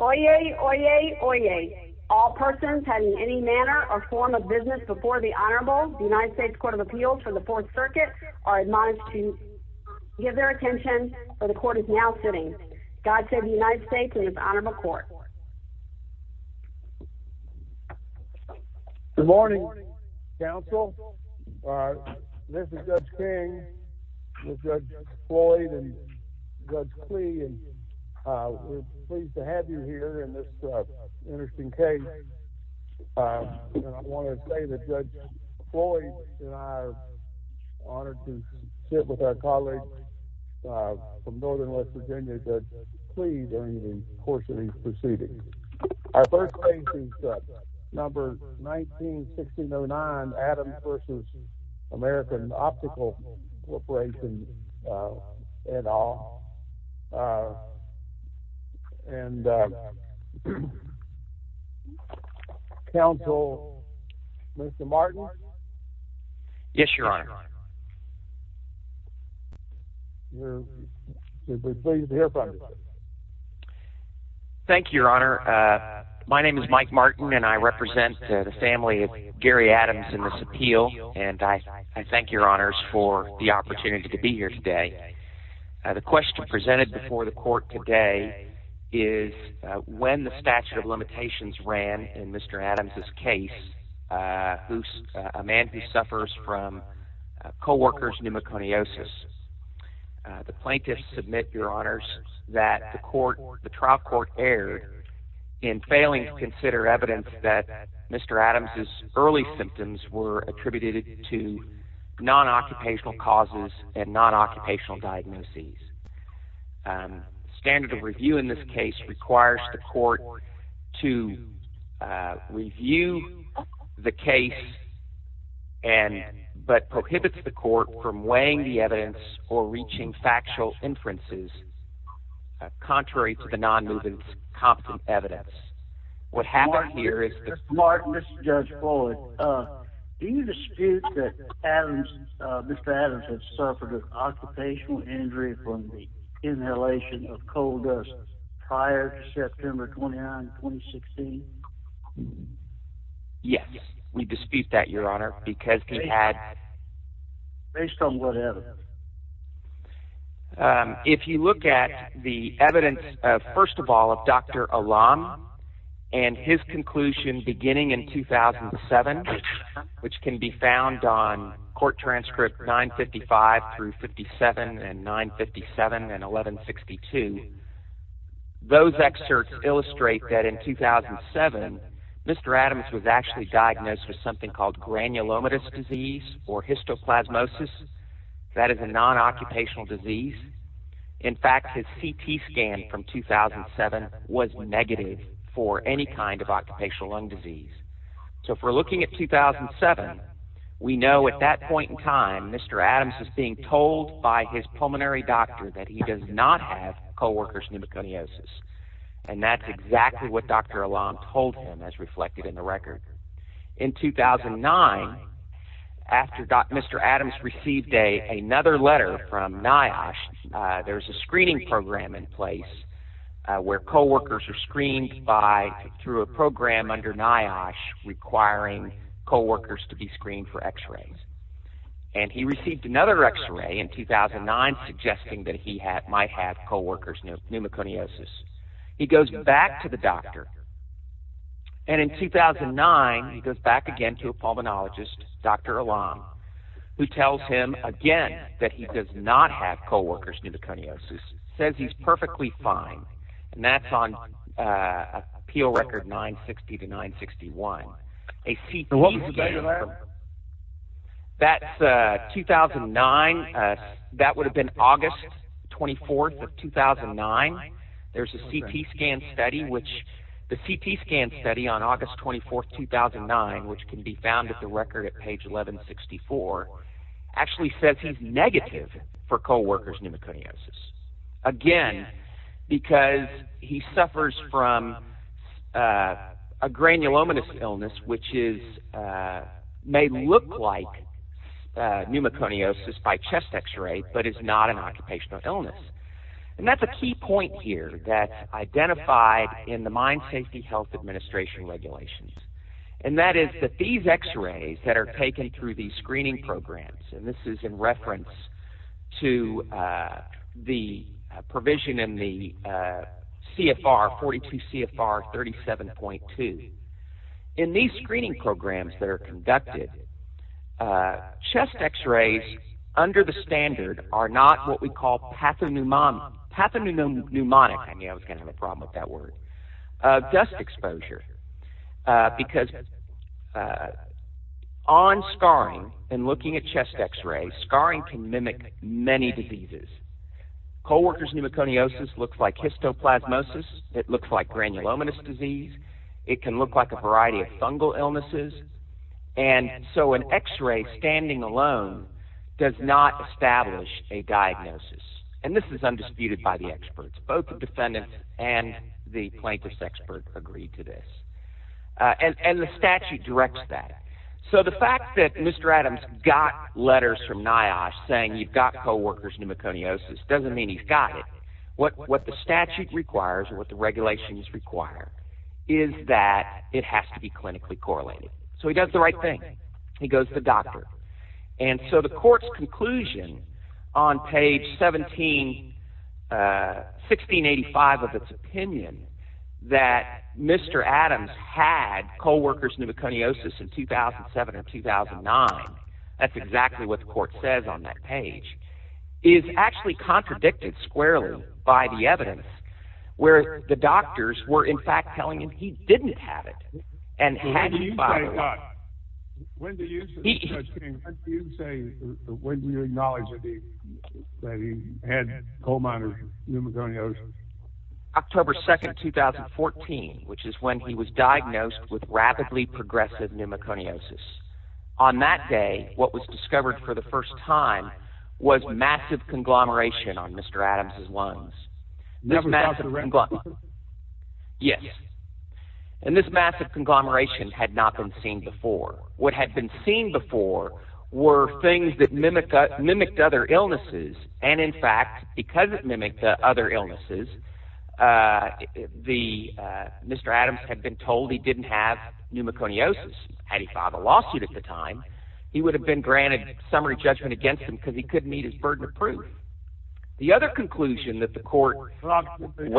Oyez! Oyez! Oyez! All persons having any manner or form of business before the Honorable United States Court of Appeals for the Fourth Circuit are admonished to give their attention where the Court is now sitting. God save the United States and this Honorable Court. Good morning, counsel. This is Judge King with Judge Floyd and Judge Klee. We're pleased to have you here in this interesting case. I want to say that Judge Floyd and I are honored to sit with our colleague from Northern West Virginia, Judge Klee, during the course of these proceedings. Our first case is number 19-1609, Adams v. American Optical Corporation, et al. And, counsel, Mr. Martin? Yes, Your Honor. We're pleased to hear from you. Thank you, Your Honor. My name is Mike Martin, and I represent the family of Gary Adams in this appeal. And I thank Your Honors for the opportunity to be here today. The question presented before the court today is when the statute of limitations ran in Mr. Adams' case, a man who suffers from co-worker's pneumoconiosis. The plaintiffs submit, Your Honors, that the trial court erred in failing to consider evidence that Mr. Adams' early symptoms were attributed to non-occupational causes and non-occupational diagnoses. The standard of review in this case requires the court to review the case but prohibits the court from weighing the evidence or reaching factual inferences contrary to the non-movement's competent evidence. Mr. Martin, this is Judge Fuller. Do you dispute that Mr. Adams had suffered an occupational injury from the inhalation of coal dust prior to September 29, 2016? Yes, we dispute that, Your Honor, because we had… Based on what evidence? If you look at the evidence, first of all, of Dr. Alam and his conclusion beginning in 2007, which can be found on Court Transcript 955-57 and 957 and 1162… Those excerpts illustrate that in 2007, Mr. Adams was actually diagnosed with something called granulomatous disease or histoplasmosis. That is a non-occupational disease. In fact, his CT scan from 2007 was negative for any kind of occupational lung disease. So if we're looking at 2007, we know at that point in time, Mr. Adams is being told by his pulmonary doctor that he does not have co-worker's pneumoconiosis. And that's exactly what Dr. Alam told him as reflected in the record. In 2009, after Mr. Adams received another letter from NIOSH, there's a screening program in place where co-workers are screened through a program under NIOSH requiring co-workers to be screened for x-rays. And he received another x-ray in 2009 suggesting that he might have co-worker's pneumoconiosis. He goes back to the doctor, and in 2009, he goes back again to a pulmonologist, Dr. Alam, who tells him again that he does not have co-worker's pneumoconiosis. He says he's perfectly fine, and that's on appeal record 960-961. And what was the date of that? That's 2009. That would have been August 24, 2009. There's a CT scan study, which the CT scan study on August 24, 2009, which can be found at the record at page 1164, actually says he's negative for co-worker's pneumoconiosis. Again, because he suffers from a granulomatous illness, which may look like pneumoconiosis by chest x-ray, but is not an occupational illness. And that's a key point here that's identified in the Mind Safety Health Administration regulations. And that is that these x-rays that are taken through these screening programs, and this is in reference to the provision in the CFR, 42 CFR 37.2. In these screening programs that are conducted, chest x-rays, under the standard, are not what we call pathognomonic. I was going to have a problem with that word. Dust exposure. Because on scarring, and looking at chest x-rays, scarring can mimic many diseases. Co-worker's pneumoconiosis looks like histoplasmosis. It looks like granulomatous disease. It can look like a variety of fungal illnesses. And so an x-ray standing alone does not establish a diagnosis. And this is undisputed by the experts. Both the defendant and the plaintiff's expert agree to this. And the statute directs that. So the fact that Mr. Adams got letters from NIOSH saying you've got co-worker's pneumoconiosis doesn't mean he's got it. What the statute requires or what the regulations require is that it has to be clinically correlated. So he does the right thing. He goes to the doctor. And so the court's conclusion on page 1685 of its opinion that Mr. Adams had co-worker's pneumoconiosis in 2007 or 2009… …that's exactly what the court says on that page… …is actually contradicted squarely by the evidence, where the doctors were in fact telling him he didn't have it. And he had it, by the way. October 2, 2014, which is when he was diagnosed with rapidly progressive pneumoconiosis. On that day, what was discovered for the first time was massive conglomeration on Mr. Adams' lungs. Yes. And this massive conglomeration had not been seen before. What had been seen before were things that mimicked other illnesses. And in fact, because it mimicked other illnesses, Mr. Adams had been told he didn't have pneumoconiosis. Had he filed a lawsuit at the time, he would have been granted summary judgment against him because he couldn't meet his burden of proof. The other conclusion that the court… October 7,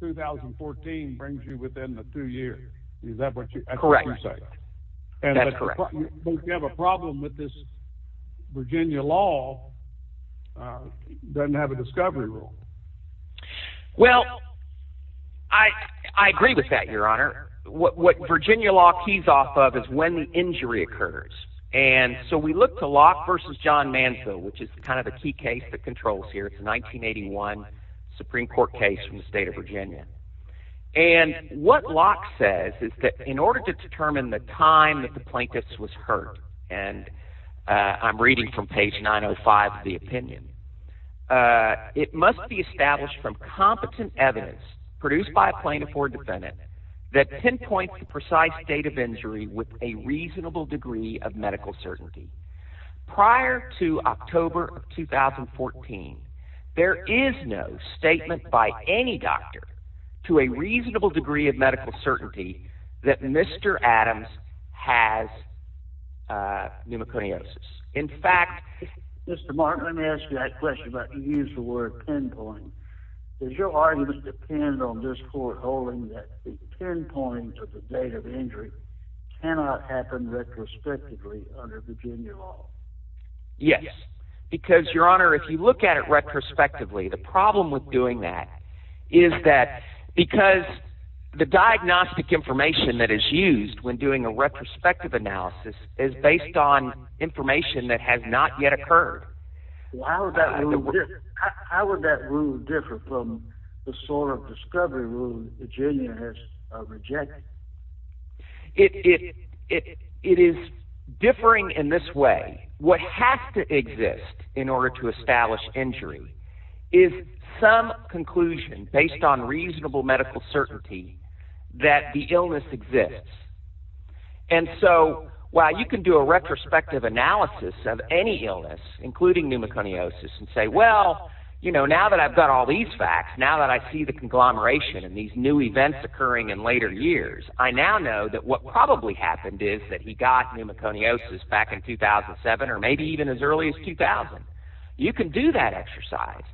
2014 brings you within the two years. Is that what you're saying? Correct. That's correct. But if you have a problem with this, Virginia law doesn't have a discovery rule. Well, I agree with that, Your Honor. What Virginia law keys off of is when the injury occurs. And so we look to Locke v. John Manso, which is kind of a key case that controls here. It's a 1981 Supreme Court case from the state of Virginia. And what Locke says is that in order to determine the time that the plaintiff was hurt… And I'm reading from page 905 of the opinion. It must be established from competent evidence produced by a plaintiff or defendant that pinpoints the precise state of injury with a reasonable degree of medical certainty. Prior to October 2014, there is no statement by any doctor to a reasonable degree of medical certainty that Mr. Adams has pneumoconiosis. Mr. Martin, let me ask you that question about the use of the word pinpoint. Does your argument depend on this court holding that the pinpoint of the date of injury cannot happen retrospectively under Virginia law? Yes, because, Your Honor, if you look at it retrospectively, the problem with doing that is that… The information that is used when doing a retrospective analysis is based on information that has not yet occurred. How would that rule differ from the sort of discovery rule Virginia has rejected? It is differing in this way. What has to exist in order to establish injury is some conclusion based on reasonable medical certainty that the illness exists. And so while you can do a retrospective analysis of any illness, including pneumoconiosis, and say, well, now that I've got all these facts, now that I see the conglomeration and these new events occurring in later years, I now know that what probably happened is that he got pneumoconiosis back in 2007 or maybe even as early as 2000. You can do that exercise,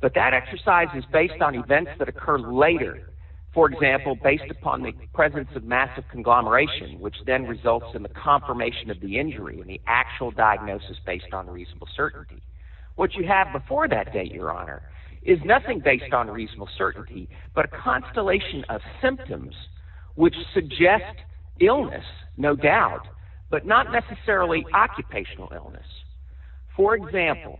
but that exercise is based on events that occur later. For example, based upon the presence of massive conglomeration, which then results in the confirmation of the injury and the actual diagnosis based on reasonable certainty. What you have before that date, Your Honor, is nothing based on reasonable certainty but a constellation of symptoms which suggest illness, no doubt, but not necessarily occupational illness. For example,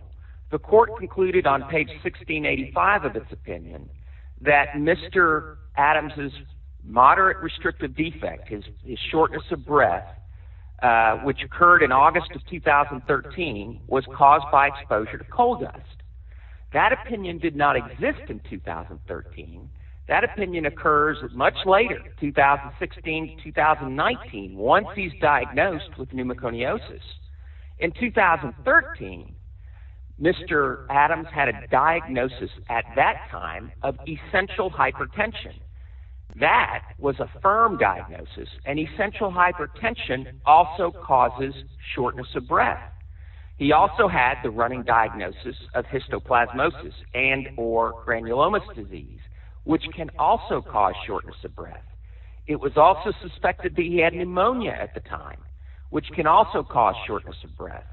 the court concluded on page 1685 of its opinion that Mr. Adams' moderate restrictive defect, his shortness of breath, which occurred in August of 2013, was caused by exposure to coal dust. That opinion did not exist in 2013. That opinion occurs much later, 2016 to 2019, once he's diagnosed with pneumoconiosis. In 2013, Mr. Adams had a diagnosis at that time of essential hypertension. That was a firm diagnosis, and essential hypertension also causes shortness of breath. He also had the running diagnosis of histoplasmosis and or granulomas disease, which can also cause shortness of breath. It was also suspected that he had pneumonia at the time, which can also cause shortness of breath.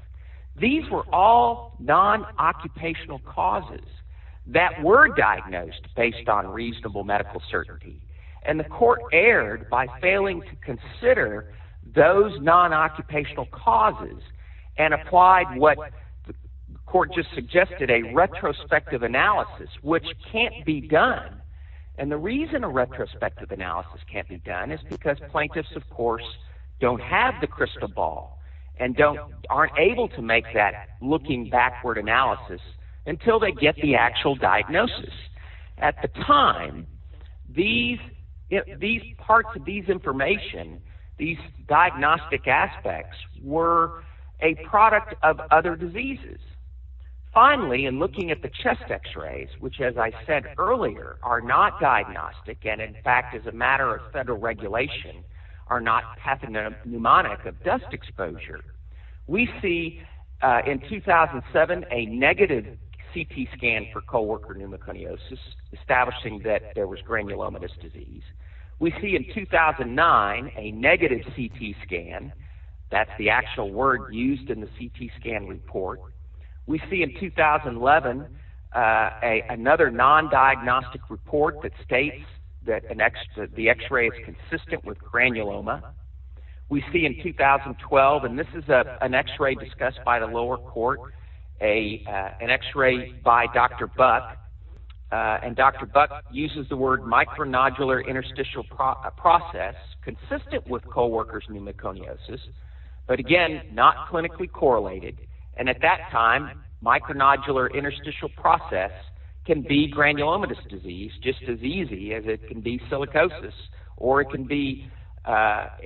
These were all non-occupational causes that were diagnosed based on reasonable medical certainty. And the court erred by failing to consider those non-occupational causes and applied what the court just suggested, a retrospective analysis, which can't be done. And the reason a retrospective analysis can't be done is because plaintiffs, of course, don't have the crystal ball and aren't able to make that looking backward analysis until they get the actual diagnosis. At the time, these parts of this information, these diagnostic aspects, were a product of other diseases. Finally, in looking at the chest x-rays, which as I said earlier, are not diagnostic, and in fact, as a matter of federal regulation, are not pathognomonic of dust exposure, we see in 2007 a negative CT scan for co-worker pneumoconiosis, establishing that there was granulomatous disease. We see in 2009 a negative CT scan. That's the actual word used in the CT scan report. We see in 2011 another non-diagnostic report that states that the x-ray is consistent with granuloma. We see in 2012, and this is an x-ray discussed by the lower court, an x-ray by Dr. Buck, and Dr. Buck uses the word micronodular interstitial process consistent with co-worker's pneumoconiosis, but again, not clinically correlated, and at that time, micronodular interstitial process can be granulomatous disease just as easy as it can be silicosis or it can be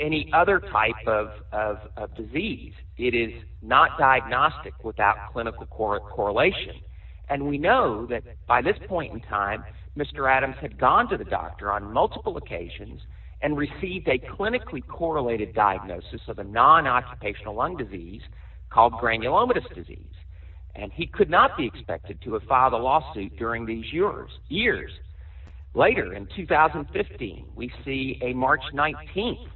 any other type of disease. It is not diagnostic without clinical correlation, and we know that by this point in time, Mr. Adams had gone to the doctor on multiple occasions and received a clinically correlated diagnosis of a non-occupational lung disease called granulomatous disease, and he could not be expected to have filed a lawsuit during these years. Later, in 2015, we see a March 19th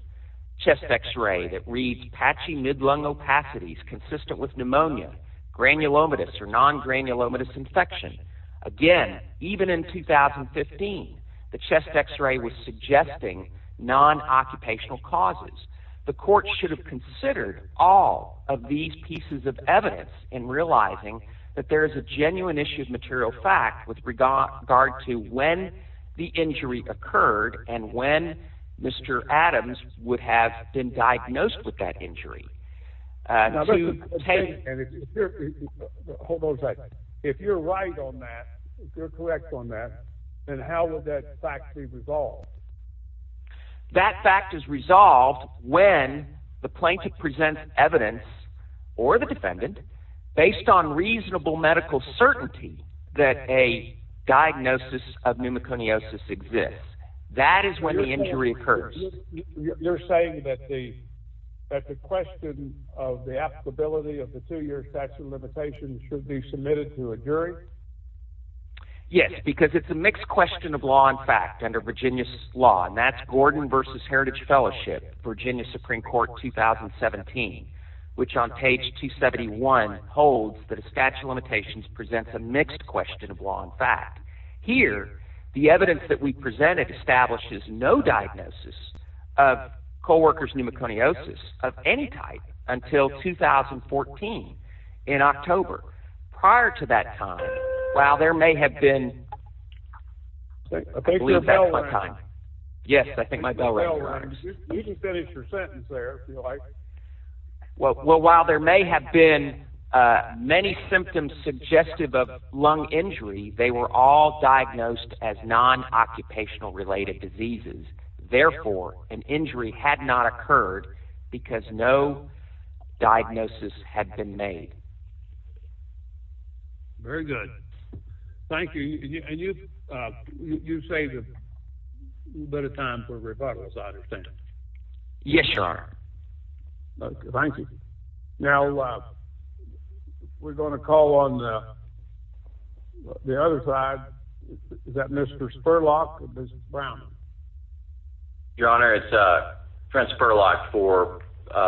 chest x-ray that reads patchy mid-lung opacities consistent with pneumonia, granulomatous or non-granulomatous infection. Again, even in 2015, the chest x-ray was suggesting non-occupational causes. The court should have considered all of these pieces of evidence in realizing that there is a genuine issue of material fact with regard to when the injury occurred and when Mr. Adams would have been diagnosed with that injury. Hold on a second. If you're right on that, if you're correct on that, then how would that fact be resolved? That fact is resolved when the plaintiff presents evidence or the defendant based on reasonable medical certainty that a diagnosis of pneumoconiosis exists. That is when the injury occurs. You're saying that the question of the applicability of the two-year statute of limitations should be submitted to a jury? Yes, because it's a mixed question of law and fact under Virginia's law, and that's Gordon v. Heritage Fellowship, Virginia Supreme Court 2017, which on page 271 holds that a statute of limitations presents a mixed question of law and fact. Here, the evidence that we presented establishes no diagnosis of coworkers' pneumoconiosis of any type until 2014 in October. Prior to that time, while there may have been… I think your bell rang. Yes, I think my bell rang, Your Honor. You can finish your sentence there if you like. Well, while there may have been many symptoms suggestive of lung injury, they were all diagnosed as non-occupational-related diseases. Therefore, an injury had not occurred because no diagnosis had been made. Very good. Thank you. And you've saved a bit of time for rebuttals, I understand. Yes, Your Honor. Thank you. Now, we're going to call on the other side. Is that Mr. Spurlock or Mrs. Brown? Your Honor, it's Trent Spurlock for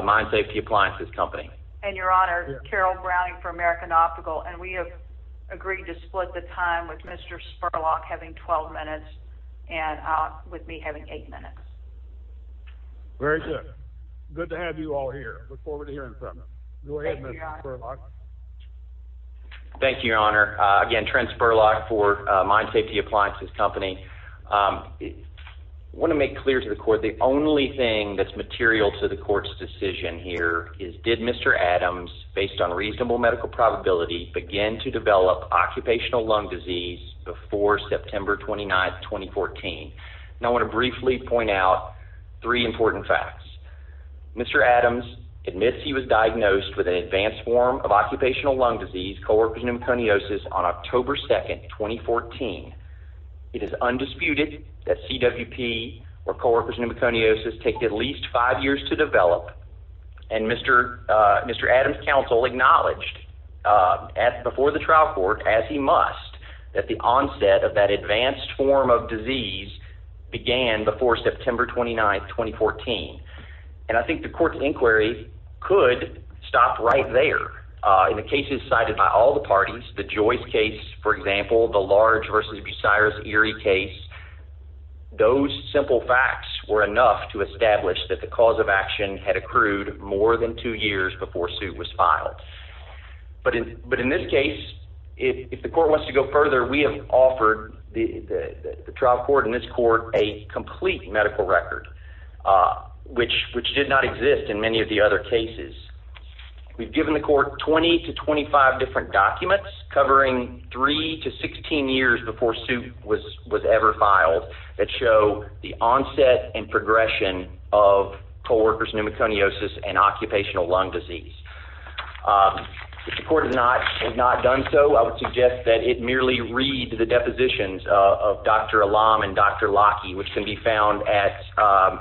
Mine Safety Appliances Company. And, Your Honor, Carol Browning for American Optical. And we have agreed to split the time with Mr. Spurlock having 12 minutes and with me having 8 minutes. Very good. Good to have you all here. Look forward to hearing from you. Go ahead, Mr. Spurlock. Thank you, Your Honor. Again, Trent Spurlock for Mine Safety Appliances Company. I want to make clear to the Court the only thing that's material to the Court's decision here is did Mr. Adams, based on reasonable medical probability, begin to develop occupational lung disease before September 29, 2014? And I want to briefly point out three important facts. Mr. Adams admits he was diagnosed with an advanced form of occupational lung disease, colorectal pneumoconiosis, on October 2, 2014. It is undisputed that CWP, or colorectal pneumoconiosis, takes at least five years to develop. And Mr. Adams' counsel acknowledged before the trial court, as he must, that the onset of that advanced form of disease began before September 29, 2014. And I think the Court's inquiry could stop right there. In the cases cited by all the parties, the Joyce case, for example, the Large v. Bucyrus Erie case, those simple facts were enough to establish that the cause of action had accrued more than two years before suit was filed. But in this case, if the Court wants to go further, we have offered the trial court and this Court a complete medical record, which did not exist in many of the other cases. We've given the Court 20 to 25 different documents, covering three to 16 years before suit was ever filed, that show the onset and progression of coworkers' pneumoconiosis and occupational lung disease. If the Court had not done so, I would suggest that it merely read the depositions of Dr. Alam and Dr. Locke, which can be found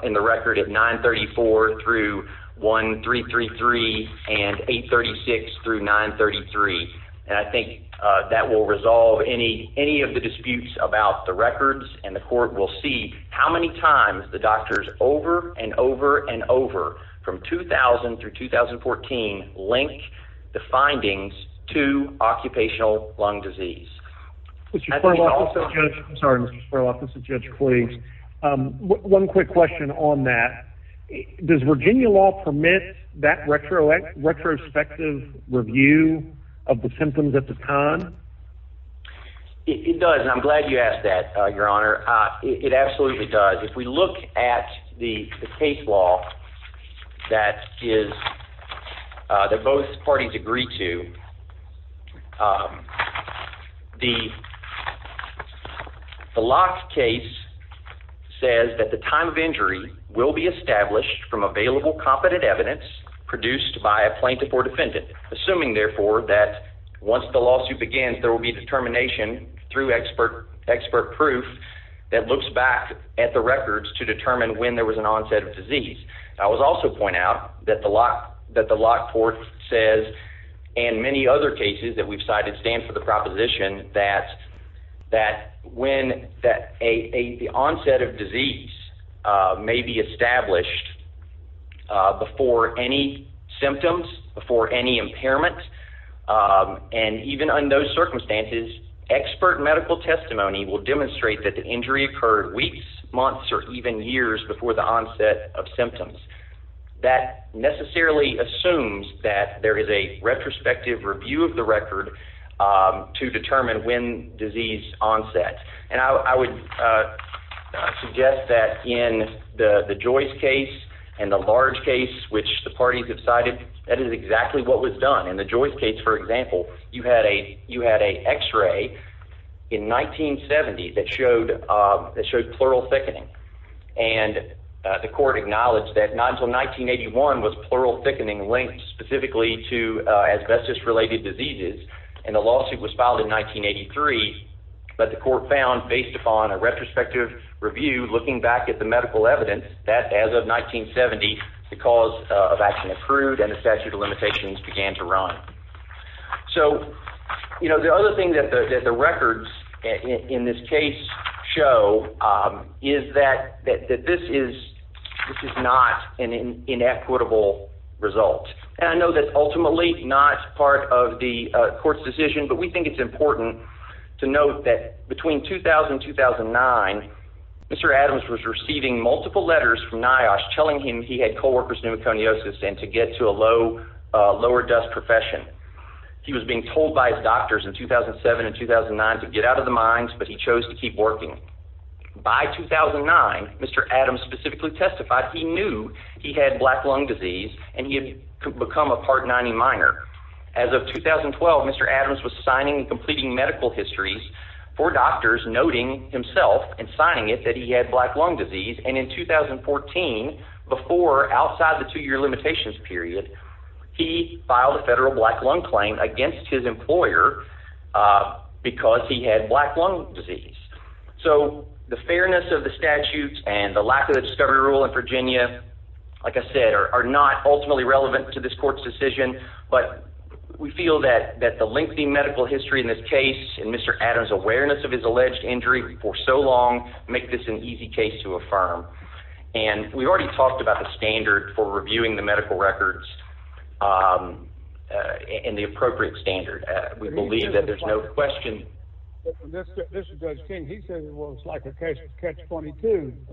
in the record at 934-1333 and 836-933. And I think that will resolve any of the disputes about the records and the Court will see how many times the doctors over and over and over, from 2000 through 2014, link the findings to occupational lung disease. I'm sorry, Mr. Spurlock, this is Judge Clegg's. One quick question on that. Does Virginia law permit that retrospective review of the symptoms at the time? It does, and I'm glad you asked that, Your Honor. It absolutely does. If we look at the case law that both parties agree to, the Locke case says that the time of injury will be established from available competent evidence produced by a plaintiff or defendant, assuming, therefore, that once the lawsuit begins, there will be determination through expert proof that looks back at the records to determine when there was an onset of disease. I would also point out that the Locke court says, and many other cases that we've cited, stand for the proposition that when the onset of disease may be established before any symptoms, before any impairment, and even under those circumstances, expert medical testimony will demonstrate that the injury occurred weeks, months, or even years before the onset of symptoms. That necessarily assumes that there is a retrospective review of the record to determine when disease onset. I would suggest that in the Joyce case and the large case, which the parties have cited, that is exactly what was done. In the Joyce case, for example, you had an x-ray in 1970 that showed pleural thickening. The court acknowledged that not until 1981 was pleural thickening linked specifically to asbestos-related diseases. The lawsuit was filed in 1983, but the court found, based upon a retrospective review looking back at the medical evidence, that as of 1970, the cause of action approved and the statute of limitations began to run. The other thing that the records in this case show is that this is not an inequitable result. I know that's ultimately not part of the court's decision, but we think it's important to note that between 2000 and 2009, Mr. Adams was receiving multiple letters from NIOSH telling him he had co-workers pneumoconiosis and to get to a lower-dose profession. He was being told by his doctors in 2007 and 2009 to get out of the mines, but he chose to keep working. By 2009, Mr. Adams specifically testified he knew he had black lung disease and he had become a Part 90 minor. As of 2012, Mr. Adams was signing and completing medical histories for doctors, noting himself and signing it that he had black lung disease, and in 2014, before, outside the two-year limitations period, he filed a federal black lung claim against his employer because he had black lung disease. So the fairness of the statutes and the lack of the discovery rule in Virginia, like I said, are not ultimately relevant to this court's decision, but we feel that the lengthy medical history in this case and Mr. Adams' awareness of his alleged injury for so long make this an easy case to affirm. And we already talked about the standard for reviewing the medical records and the appropriate standard. We believe that there's no question. This is Judge King. He said, well, it's like a catch-22.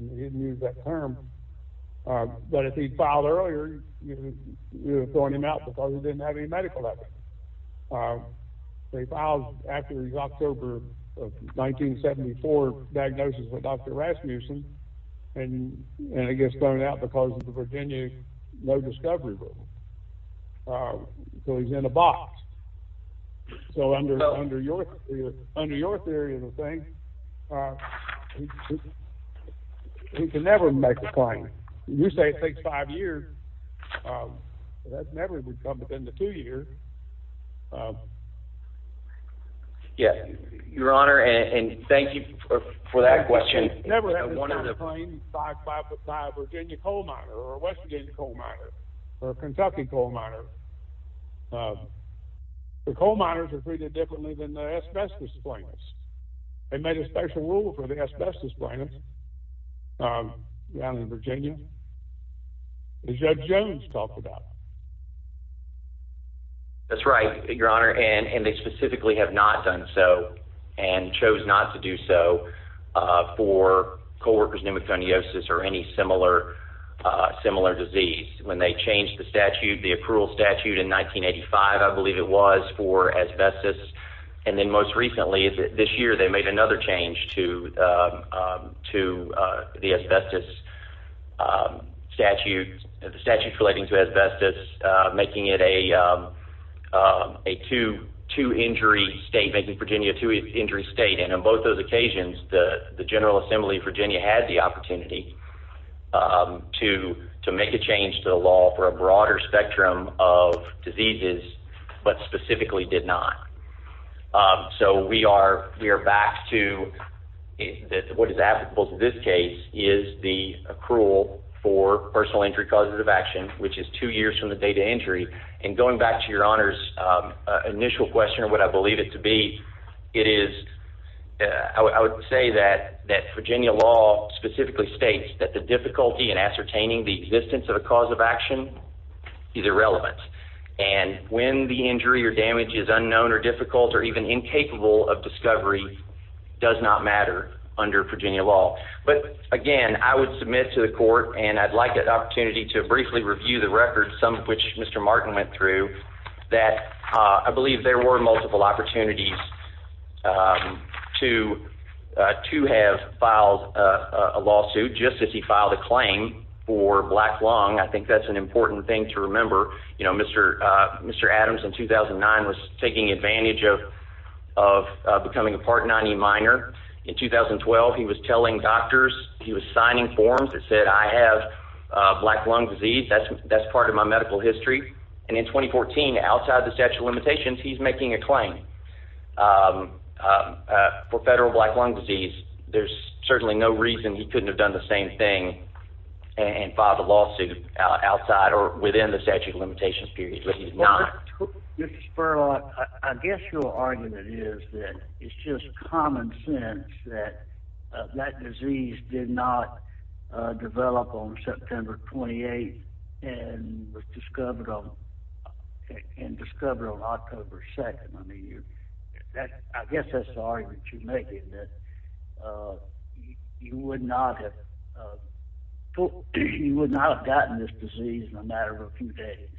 He didn't use that term. But if he'd filed earlier, you'd have thrown him out because he didn't have any medical records. He filed after his October of 1974 diagnosis with Dr. Rasmussen, and he gets thrown out because of the Virginia no discovery rule. So he's in a box. So under your theory of the thing, he could never make the claim. You say it takes five years, but that never would come within the two years. Your Honor, and thank you for that question. He never had to claim 5-5-5 Virginia coal miner or a West Virginia coal miner or a Kentucky coal miner. The coal miners are treated differently than the asbestos claimants. They made a special rule for the asbestos claimants down in Virginia that Judge Jones talked about. That's right, Your Honor, and they specifically have not done so and chose not to do so for coworkers' pneumoconiosis or any similar disease. When they changed the approval statute in 1985, I believe it was for asbestos. And then most recently, this year, they made another change to the asbestos statute relating to asbestos, making it a two-injury state, making Virginia a two-injury state. And on both those occasions, the General Assembly of Virginia had the opportunity to make a change to the law for a broader spectrum of diseases, but specifically did not. So we are back to what is applicable to this case is the accrual for personal injury causes of action, which is two years from the date of injury. And going back to Your Honor's initial question of what I believe it to be, I would say that Virginia law specifically states that the difficulty in ascertaining the existence of a cause of action is irrelevant. And when the injury or damage is unknown or difficult or even incapable of discovery does not matter under Virginia law. But again, I would submit to the court, and I'd like an opportunity to briefly review the records, some of which Mr. Martin went through, that I believe there were multiple opportunities to have filed a lawsuit just as he filed a claim for black lung. I think that's an important thing to remember. Mr. Adams in 2009 was taking advantage of becoming a Part 90 minor. In 2012, he was telling doctors, he was signing forms that said, I have black lung disease. That's part of my medical history. And in 2014, outside the statute of limitations, he's making a claim for federal black lung disease. There's certainly no reason he couldn't have done the same thing and filed a lawsuit outside or within the statute of limitations period. But he did not. Mr. Spurlock, I guess your argument is that it's just common sense that that disease did not develop on September 28 and was discovered on October 2. I guess that's the argument you're making, that you would not have gotten this disease in a matter of a few days.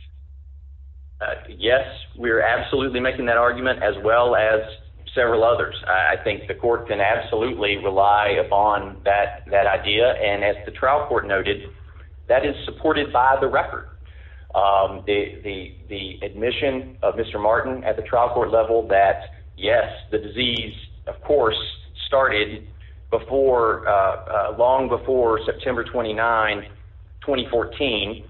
Yes, we're absolutely making that argument, as well as several others. I think the court can absolutely rely upon that idea. And as the trial court noted, that is supported by the record. The admission of Mr. Martin at the trial court level that, yes, the disease, of course, started long before September 29, 2014,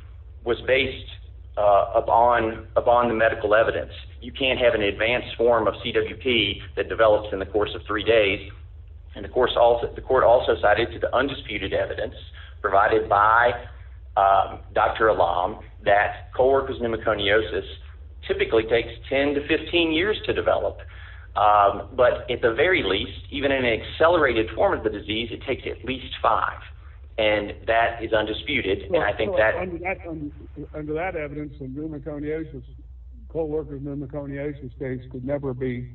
was based upon the medical evidence. You can't have an advanced form of CWP that develops in the course of three days. And, of course, the court also cited the undisputed evidence provided by Dr. Allam that co-worker's pneumoconiosis typically takes 10 to 15 years to develop. But at the very least, even in an accelerated form of the disease, it takes at least five. And that is undisputed. Under that evidence, a pneumoconiosis, co-worker's pneumoconiosis case could never be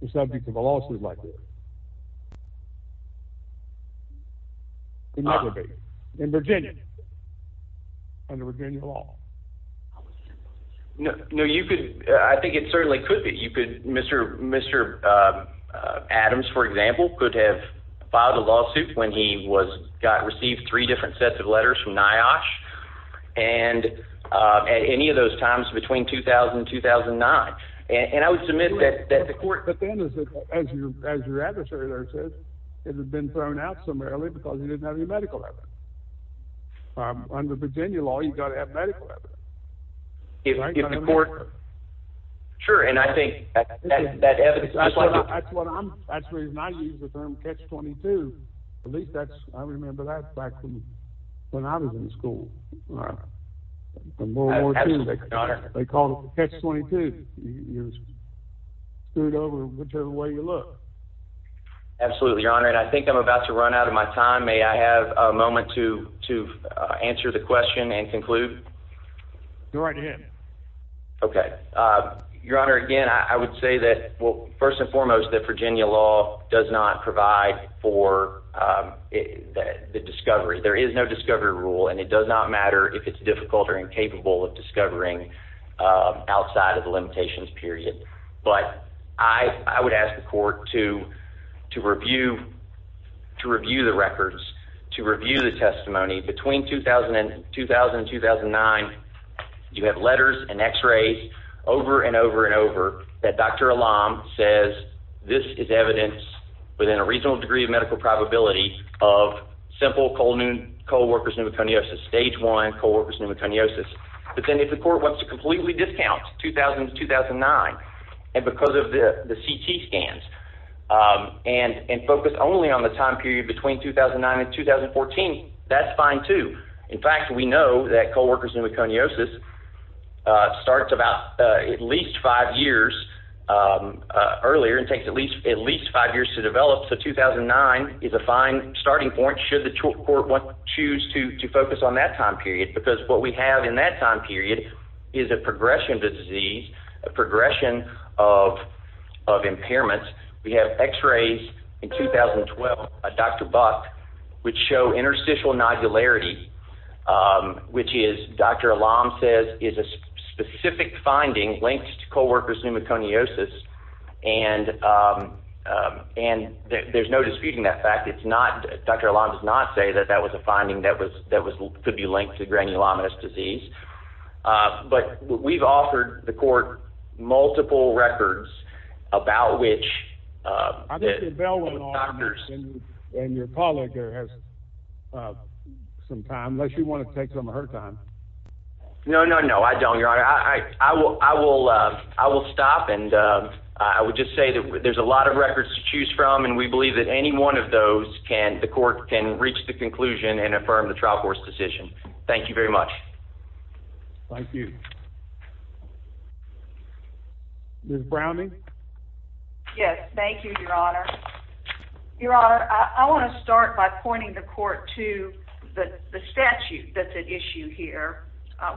the subject of a lawsuit like this. Could never be. In Virginia. Under Virginia law. No, you could, I think it certainly could be. You could, Mr. Adams, for example, could have filed a lawsuit when he was, got, received three different sets of letters from NIOSH. And at any of those times between 2000 and 2009. And I would submit that the court. But then, as your adversary there says, it had been thrown out somewhere early because he didn't have any medical evidence. Under Virginia law, you've got to have medical evidence. If the court. Sure, and I think that evidence. That's what I'm, that's the reason I use the term Catch-22. At least that's, I remember that back from when I was in school. Absolutely, Your Honor. They called it Catch-22. You're screwed over whichever way you look. Absolutely, Your Honor. And I think I'm about to run out of my time. May I have a moment to answer the question and conclude? Go right ahead. Okay. Your Honor, again, I would say that, well, first and foremost, that Virginia law does not provide for the discovery. There is no discovery rule. And it does not matter if it's difficult or incapable of discovering outside of the limitations period. But I would ask the court to review the records, to review the testimony. Between 2000 and 2009, you have letters and x-rays over and over and over that Dr. Alam says this is evidence within a reasonable degree of medical probability of simple co-workers' pneumoconiosis, stage one co-workers' pneumoconiosis. But then if the court wants to completely discount 2000 to 2009, and because of the CT scans, and focus only on the time period between 2009 and 2014, that's fine, too. In fact, we know that co-workers' pneumoconiosis starts about at least five years earlier and takes at least five years to develop. So 2009 is a fine starting point should the court choose to focus on that time period, because what we have in that time period is a progression of disease, a progression of impairments. We have x-rays in 2012 by Dr. Buck which show interstitial nodularity, which Dr. Alam says is a specific finding linked to co-workers' pneumoconiosis. And there's no disputing that fact. Dr. Alam does not say that that was a finding that could be linked to granulomatous disease. But we've offered the court multiple records about which doctors... I think the bell went off and your colleague here has some time, unless you want to take some of her time. No, no, no, I don't, Your Honor. I will stop and I would just say that there's a lot of records to choose from, and we believe that any one of those the court can reach the conclusion and affirm the trial court's decision. Thank you very much. Thank you. Ms. Browning? Yes, thank you, Your Honor. Your Honor, I want to start by pointing the court to the statute that's at issue here,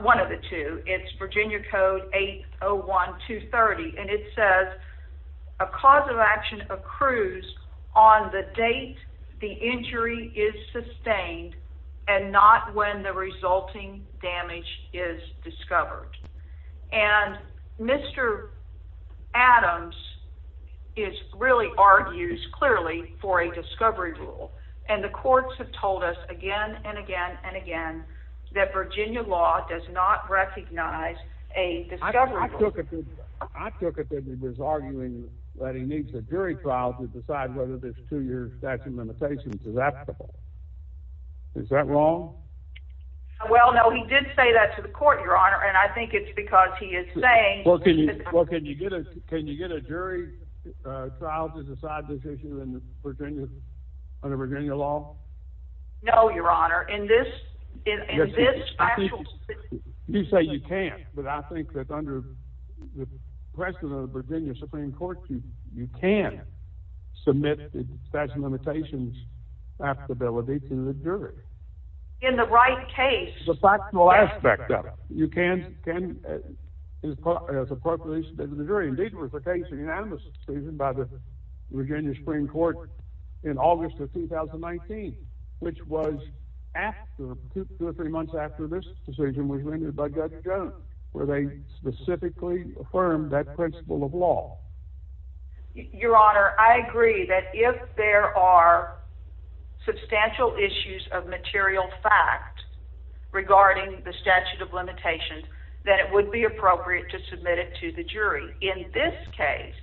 one of the two. It's Virginia Code 801-230, and it says a cause of action accrues on the date the injury is sustained and not when the resulting damage is discovered. And Mr. Adams really argues clearly for a discovery rule, and the courts have told us again and again and again that Virginia law does not recognize a discovery rule. I took it that he was arguing that he needs a jury trial to decide whether this two-year statute of limitations is applicable. Is that wrong? Well, no, he did say that to the court, Your Honor, and I think it's because he is saying… Well, can you get a jury trial to decide this issue under Virginia law? No, Your Honor. You say you can't, but I think that under the precedent of the Virginia Supreme Court, you can submit the statute of limitations to the jury. In the right case… The factual aspect of it. You can't… Indeed, there was a case, a unanimous decision by the Virginia Supreme Court in August of 2019, which was after, two or three months after this decision was rendered by Judge Jones, where they specifically affirmed that principle of law. Your Honor, I agree that if there are substantial issues of material fact regarding the statute of limitations, that it would be appropriate to submit it to the jury. In this case,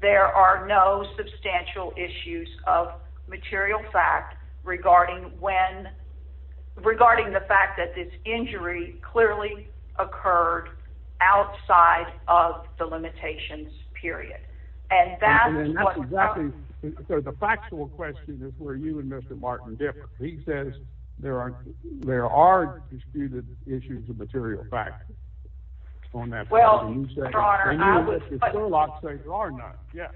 there are no substantial issues of material fact regarding the fact that this injury clearly occurred outside of the limitations period. And that's what… So, the factual question is where you and Mr. Martin differ. He says there are disputed issues of material fact on that. Well, Your Honor, I would… Sherlock says there are none, yes.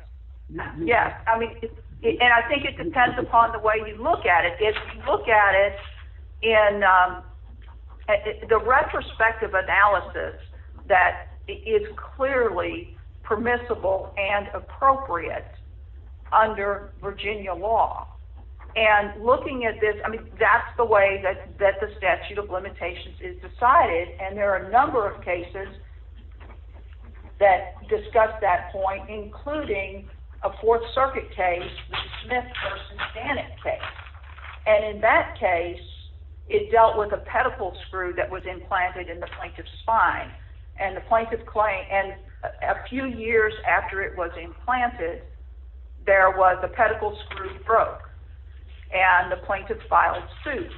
Yes, I mean, and I think it depends upon the way you look at it. If you look at it in the retrospective analysis, that it's clearly permissible and appropriate under Virginia law. And looking at this, I mean, that's the way that the statute of limitations is decided. And there are a number of cases that discuss that point, including a Fourth Circuit case, the Smith v. Bannon case. And in that case, it dealt with a pedicle screw that was implanted in the plaintiff's spine. And a few years after it was implanted, the pedicle screw broke. And the plaintiff filed suit.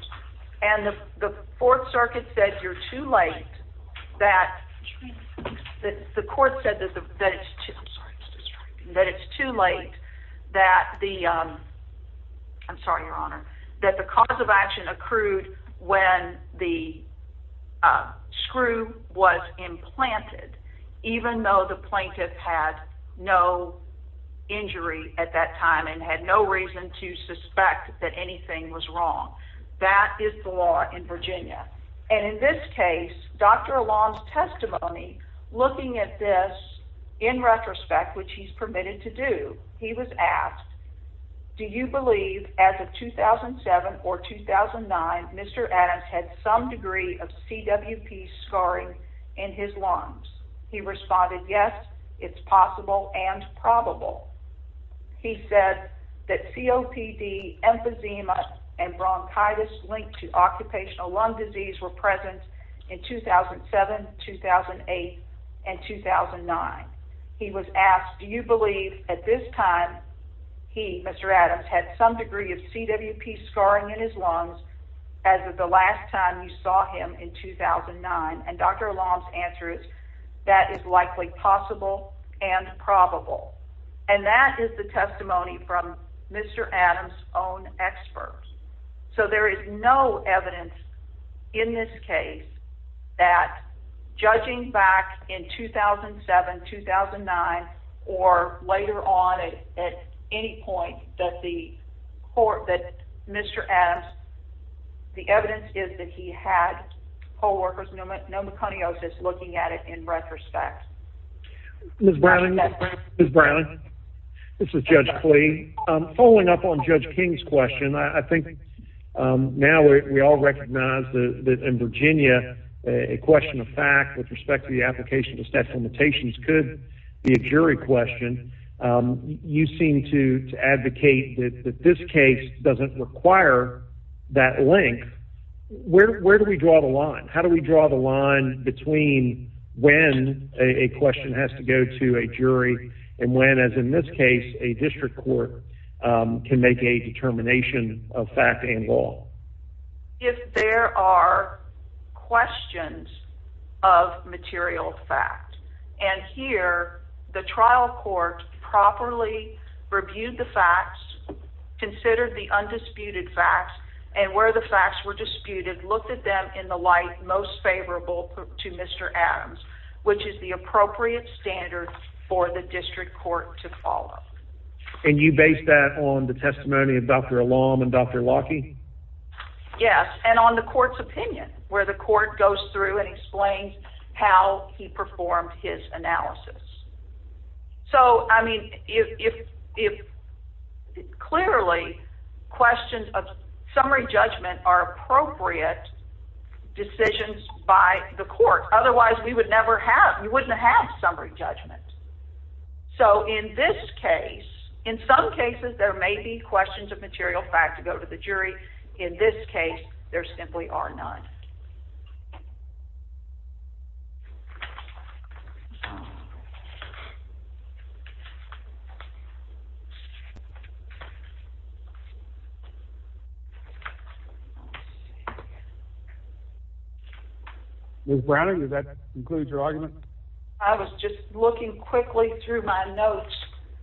And the Fourth Circuit said you're too late, that the court said that it's too late, that the cause of action accrued when the screw was implanted. Even though the plaintiff had no injury at that time and had no reason to suspect that anything was wrong. That is the law in Virginia. And in this case, Dr. Alon's testimony, looking at this in retrospect, which he's permitted to do, he was asked, do you believe as of 2007 or 2009, Mr. Adams had some degree of CWP scarring in his lungs? He responded, yes, it's possible and probable. He said that COPD, emphysema, and bronchitis linked to occupational lung disease were present in 2007, 2008, and 2009. He was asked, do you believe at this time he, Mr. Adams, had some degree of CWP scarring in his lungs as of the last time you saw him in 2009? And Dr. Alon's answer is, that is likely possible and probable. And that is the testimony from Mr. Adams' own experts. So there is no evidence in this case that, judging back in 2007, 2009, or later on at any point, that Mr. Adams, the evidence is that he had co-workers' pneumoconiosis looking at it in retrospect. Ms. Browning, this is Judge Klee. Following up on Judge King's question, I think now we all recognize that in Virginia, a question of fact with respect to the application of the statute of limitations could be a jury question. You seem to advocate that this case doesn't require that link. Where do we draw the line? How do we draw the line between when a question has to go to a jury and when, as in this case, a district court can make a determination of fact and law? If there are questions of material fact. And here, the trial court properly reviewed the facts, considered the undisputed facts, and where the facts were disputed, looked at them in the light most favorable to Mr. Adams, which is the appropriate standard for the district court to follow. And you base that on the testimony of Dr. Alon and Dr. Lockheed? Yes, and on the court's opinion, where the court goes through and explains how he performed his analysis. So, I mean, clearly, questions of summary judgment are appropriate decisions by the court. Otherwise, you wouldn't have summary judgment. So, in this case, in some cases, there may be questions of material fact to go to the jury. In this case, there simply are none. Ms. Browner, does that conclude your argument? I was just looking quickly through my notes,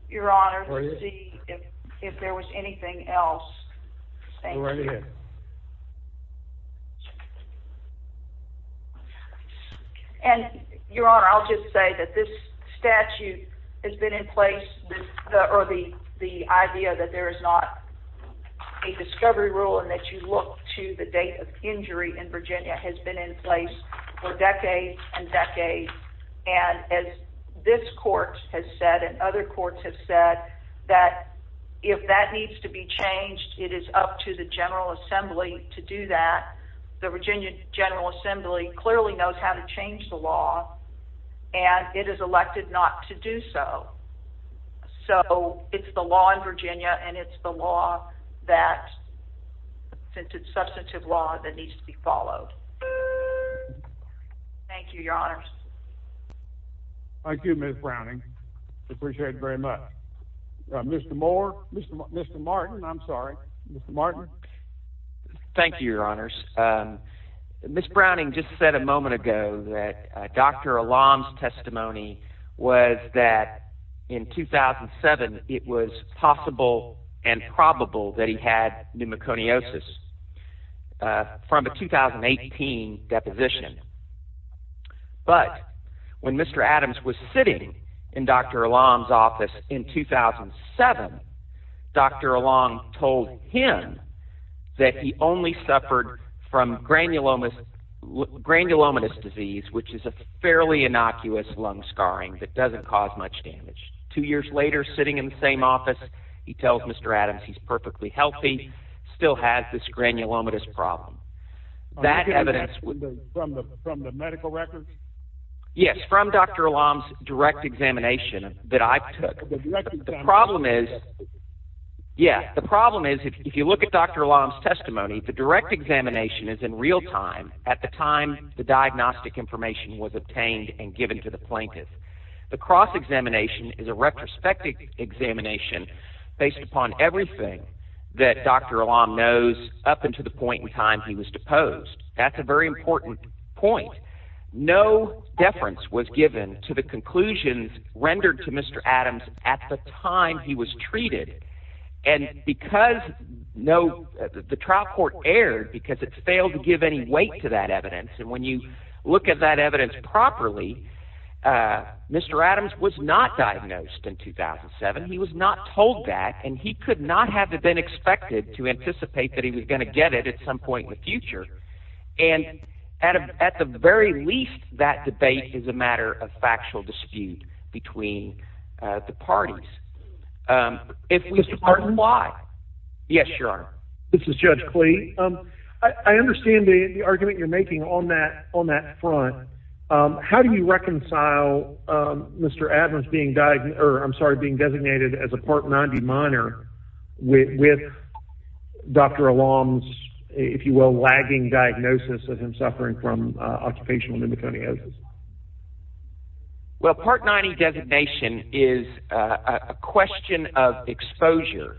Your Honor, to see if there was anything else. Go right ahead. And, Your Honor, I'll just say that this statute has been in place, or the idea that there is not a discovery rule and that you look to the date of injury in Virginia has been in place for decades and decades. And as this court has said and other courts have said, that if that needs to be changed, it is up to the General Assembly to do that. The Virginia General Assembly clearly knows how to change the law, and it is elected not to do so. So, it's the law in Virginia, and it's the law that, since it's substantive law, that needs to be followed. Thank you, Your Honors. Thank you, Ms. Browning. I appreciate it very much. Mr. Moore, Mr. Martin, I'm sorry. Mr. Martin. Thank you, Your Honors. Ms. Browning just said a moment ago that Dr. Alam's testimony was that in 2007 it was possible and probable that he had pneumoconiosis from a 2018 deposition. But, when Mr. Adams was sitting in Dr. Alam's office in 2007, Dr. Alam told him that he only suffered from granulomatous disease, which is a fairly innocuous lung scarring that doesn't cause much damage. Two years later, sitting in the same office, he tells Mr. Adams he's perfectly healthy, still has this granulomatous problem. That evidence... From the medical records? Yes, from Dr. Alam's direct examination that I took. The problem is... Yeah, the problem is if you look at Dr. Alam's testimony, the direct examination is in real time, at the time the diagnostic information was obtained and given to the plaintiff. The cross-examination is a retrospective examination based upon everything that Dr. Alam knows up until the point in time he was deposed. That's a very important point. No deference was given to the conclusions rendered to Mr. Adams at the time he was treated. And because no... The trial court erred because it failed to give any weight to that evidence. And when you look at that evidence properly, Mr. Adams was not diagnosed in 2007. He was not told that, and he could not have been expected And at the very least, that debate is a matter of factual dispute between the parties. Mr. Barton? Yes, Your Honor. This is Judge Clee. I understand the argument you're making on that front. How do you reconcile Mr. Adams being designated as a Part 90 minor with Dr. Alam's, if you will, lagging diagnosis of him suffering from occupational pneumoconiosis? Well, Part 90 designation is a question of exposure.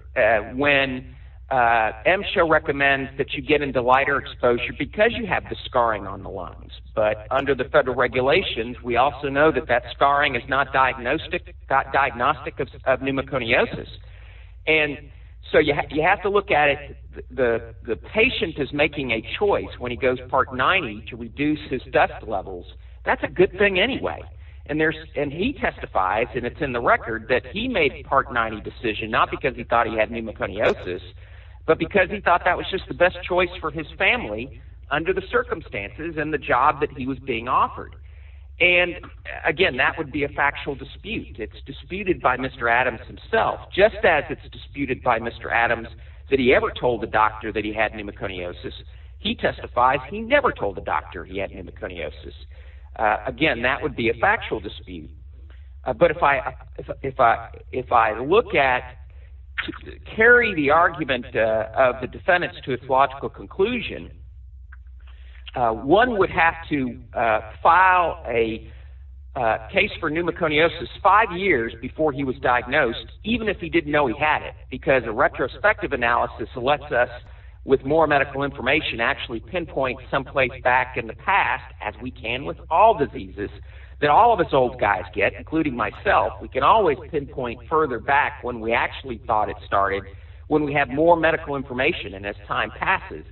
When MSHA recommends that you get into lighter exposure because you have the scarring on the lungs. But under the federal regulations, we also know that that scarring is not diagnostic of pneumoconiosis. And so you have to look at it... The patient is making a choice when he goes Part 90 to reduce his dust levels. That's a good thing anyway. And he testifies, and it's in the record, that he made the Part 90 decision not because he thought he had pneumoconiosis, but because he thought that was just the best choice for his family under the circumstances and the job that he was being offered. And again, that would be a factual dispute. It's disputed by Mr. Adams himself, just as it's disputed by Mr. Adams that he ever told the doctor that he had pneumoconiosis. He testifies he never told the doctor he had pneumoconiosis. Again, that would be a factual dispute. But if I look at... carry the argument of the defendants to its logical conclusion, one would have to file a case for pneumoconiosis five years before he was diagnosed, even if he didn't know he had it, because a retrospective analysis lets us, with more medical information, actually pinpoint someplace back in the past, as we can with all diseases, that all of us old guys get, including myself. We can always pinpoint further back when we actually thought it started, when we have more medical information and as time passes.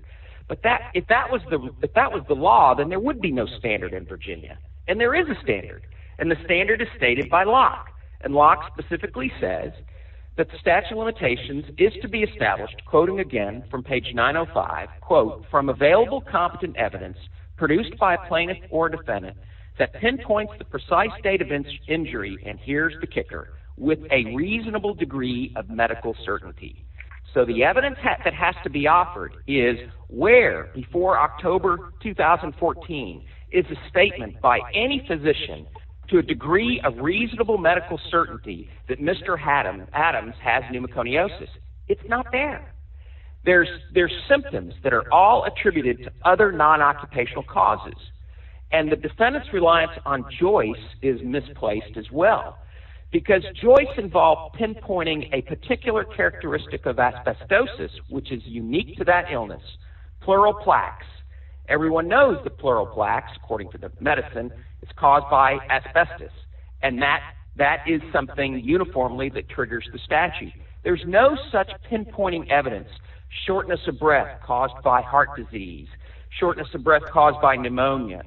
But if that was the law, then there would be no standard in Virginia. And there is a standard, and the standard is stated by Locke. And Locke specifically says that the statute of limitations is to be established, quoting again from page 905, quote, from available competent evidence produced by a plaintiff or defendant that pinpoints the precise date of injury, and here's the kicker, with a reasonable degree of medical certainty. So the evidence that has to be offered is where, before October 2014, is a statement by any physician to a degree of reasonable medical certainty that Mr. Adams has pneumoconiosis. It's not there. There's symptoms that are all attributed to other non-occupational causes. And the defendant's reliance on Joyce is misplaced as well, because Joyce involved pinpointing a particular characteristic of asbestosis, which is unique to that illness, pleural plaques. Everyone knows the pleural plaques, according to the medicine. It's caused by asbestos, and that is something uniformly that triggers the statute. There's no such pinpointing evidence, shortness of breath caused by heart disease, shortness of breath caused by pneumonia,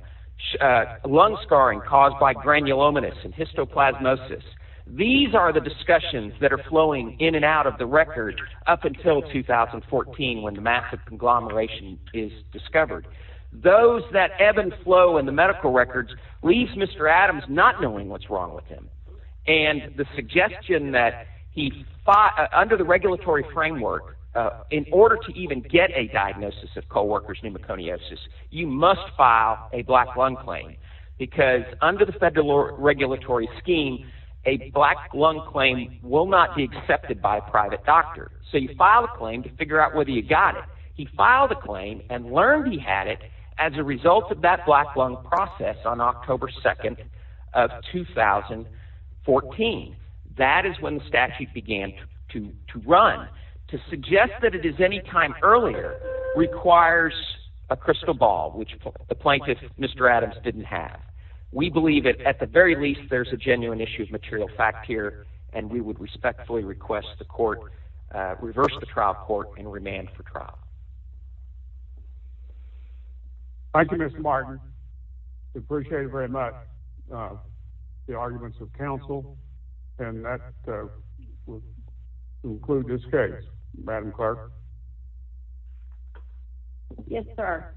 lung scarring caused by granulomatous and histoplasmosis. These are the discussions that are flowing in and out of the record up until 2014, when the massive conglomeration is discovered. Those that ebb and flow in the medical records leaves Mr. Adams not knowing what's wrong with him. And the suggestion that under the regulatory framework, in order to even get a diagnosis of co-worker's pneumoconiosis, you must file a black lung claim, because under the federal regulatory scheme, a black lung claim will not be accepted by a private doctor. So you file a claim to figure out whether you got it. He filed a claim and learned he had it as a result of that black lung process on October 2nd of 2014. That is when the statute began to run. To suggest that it is any time earlier requires a crystal ball, which the plaintiff, Mr. Adams, didn't have. We believe that, at the very least, there's a genuine issue of material fact here, and we would respectfully request the court reverse the trial court and remand for trial. Thank you, Mr. Martin. We appreciate it very much, the arguments of counsel. And that concludes this case. Madam Clerk? Yes, sir.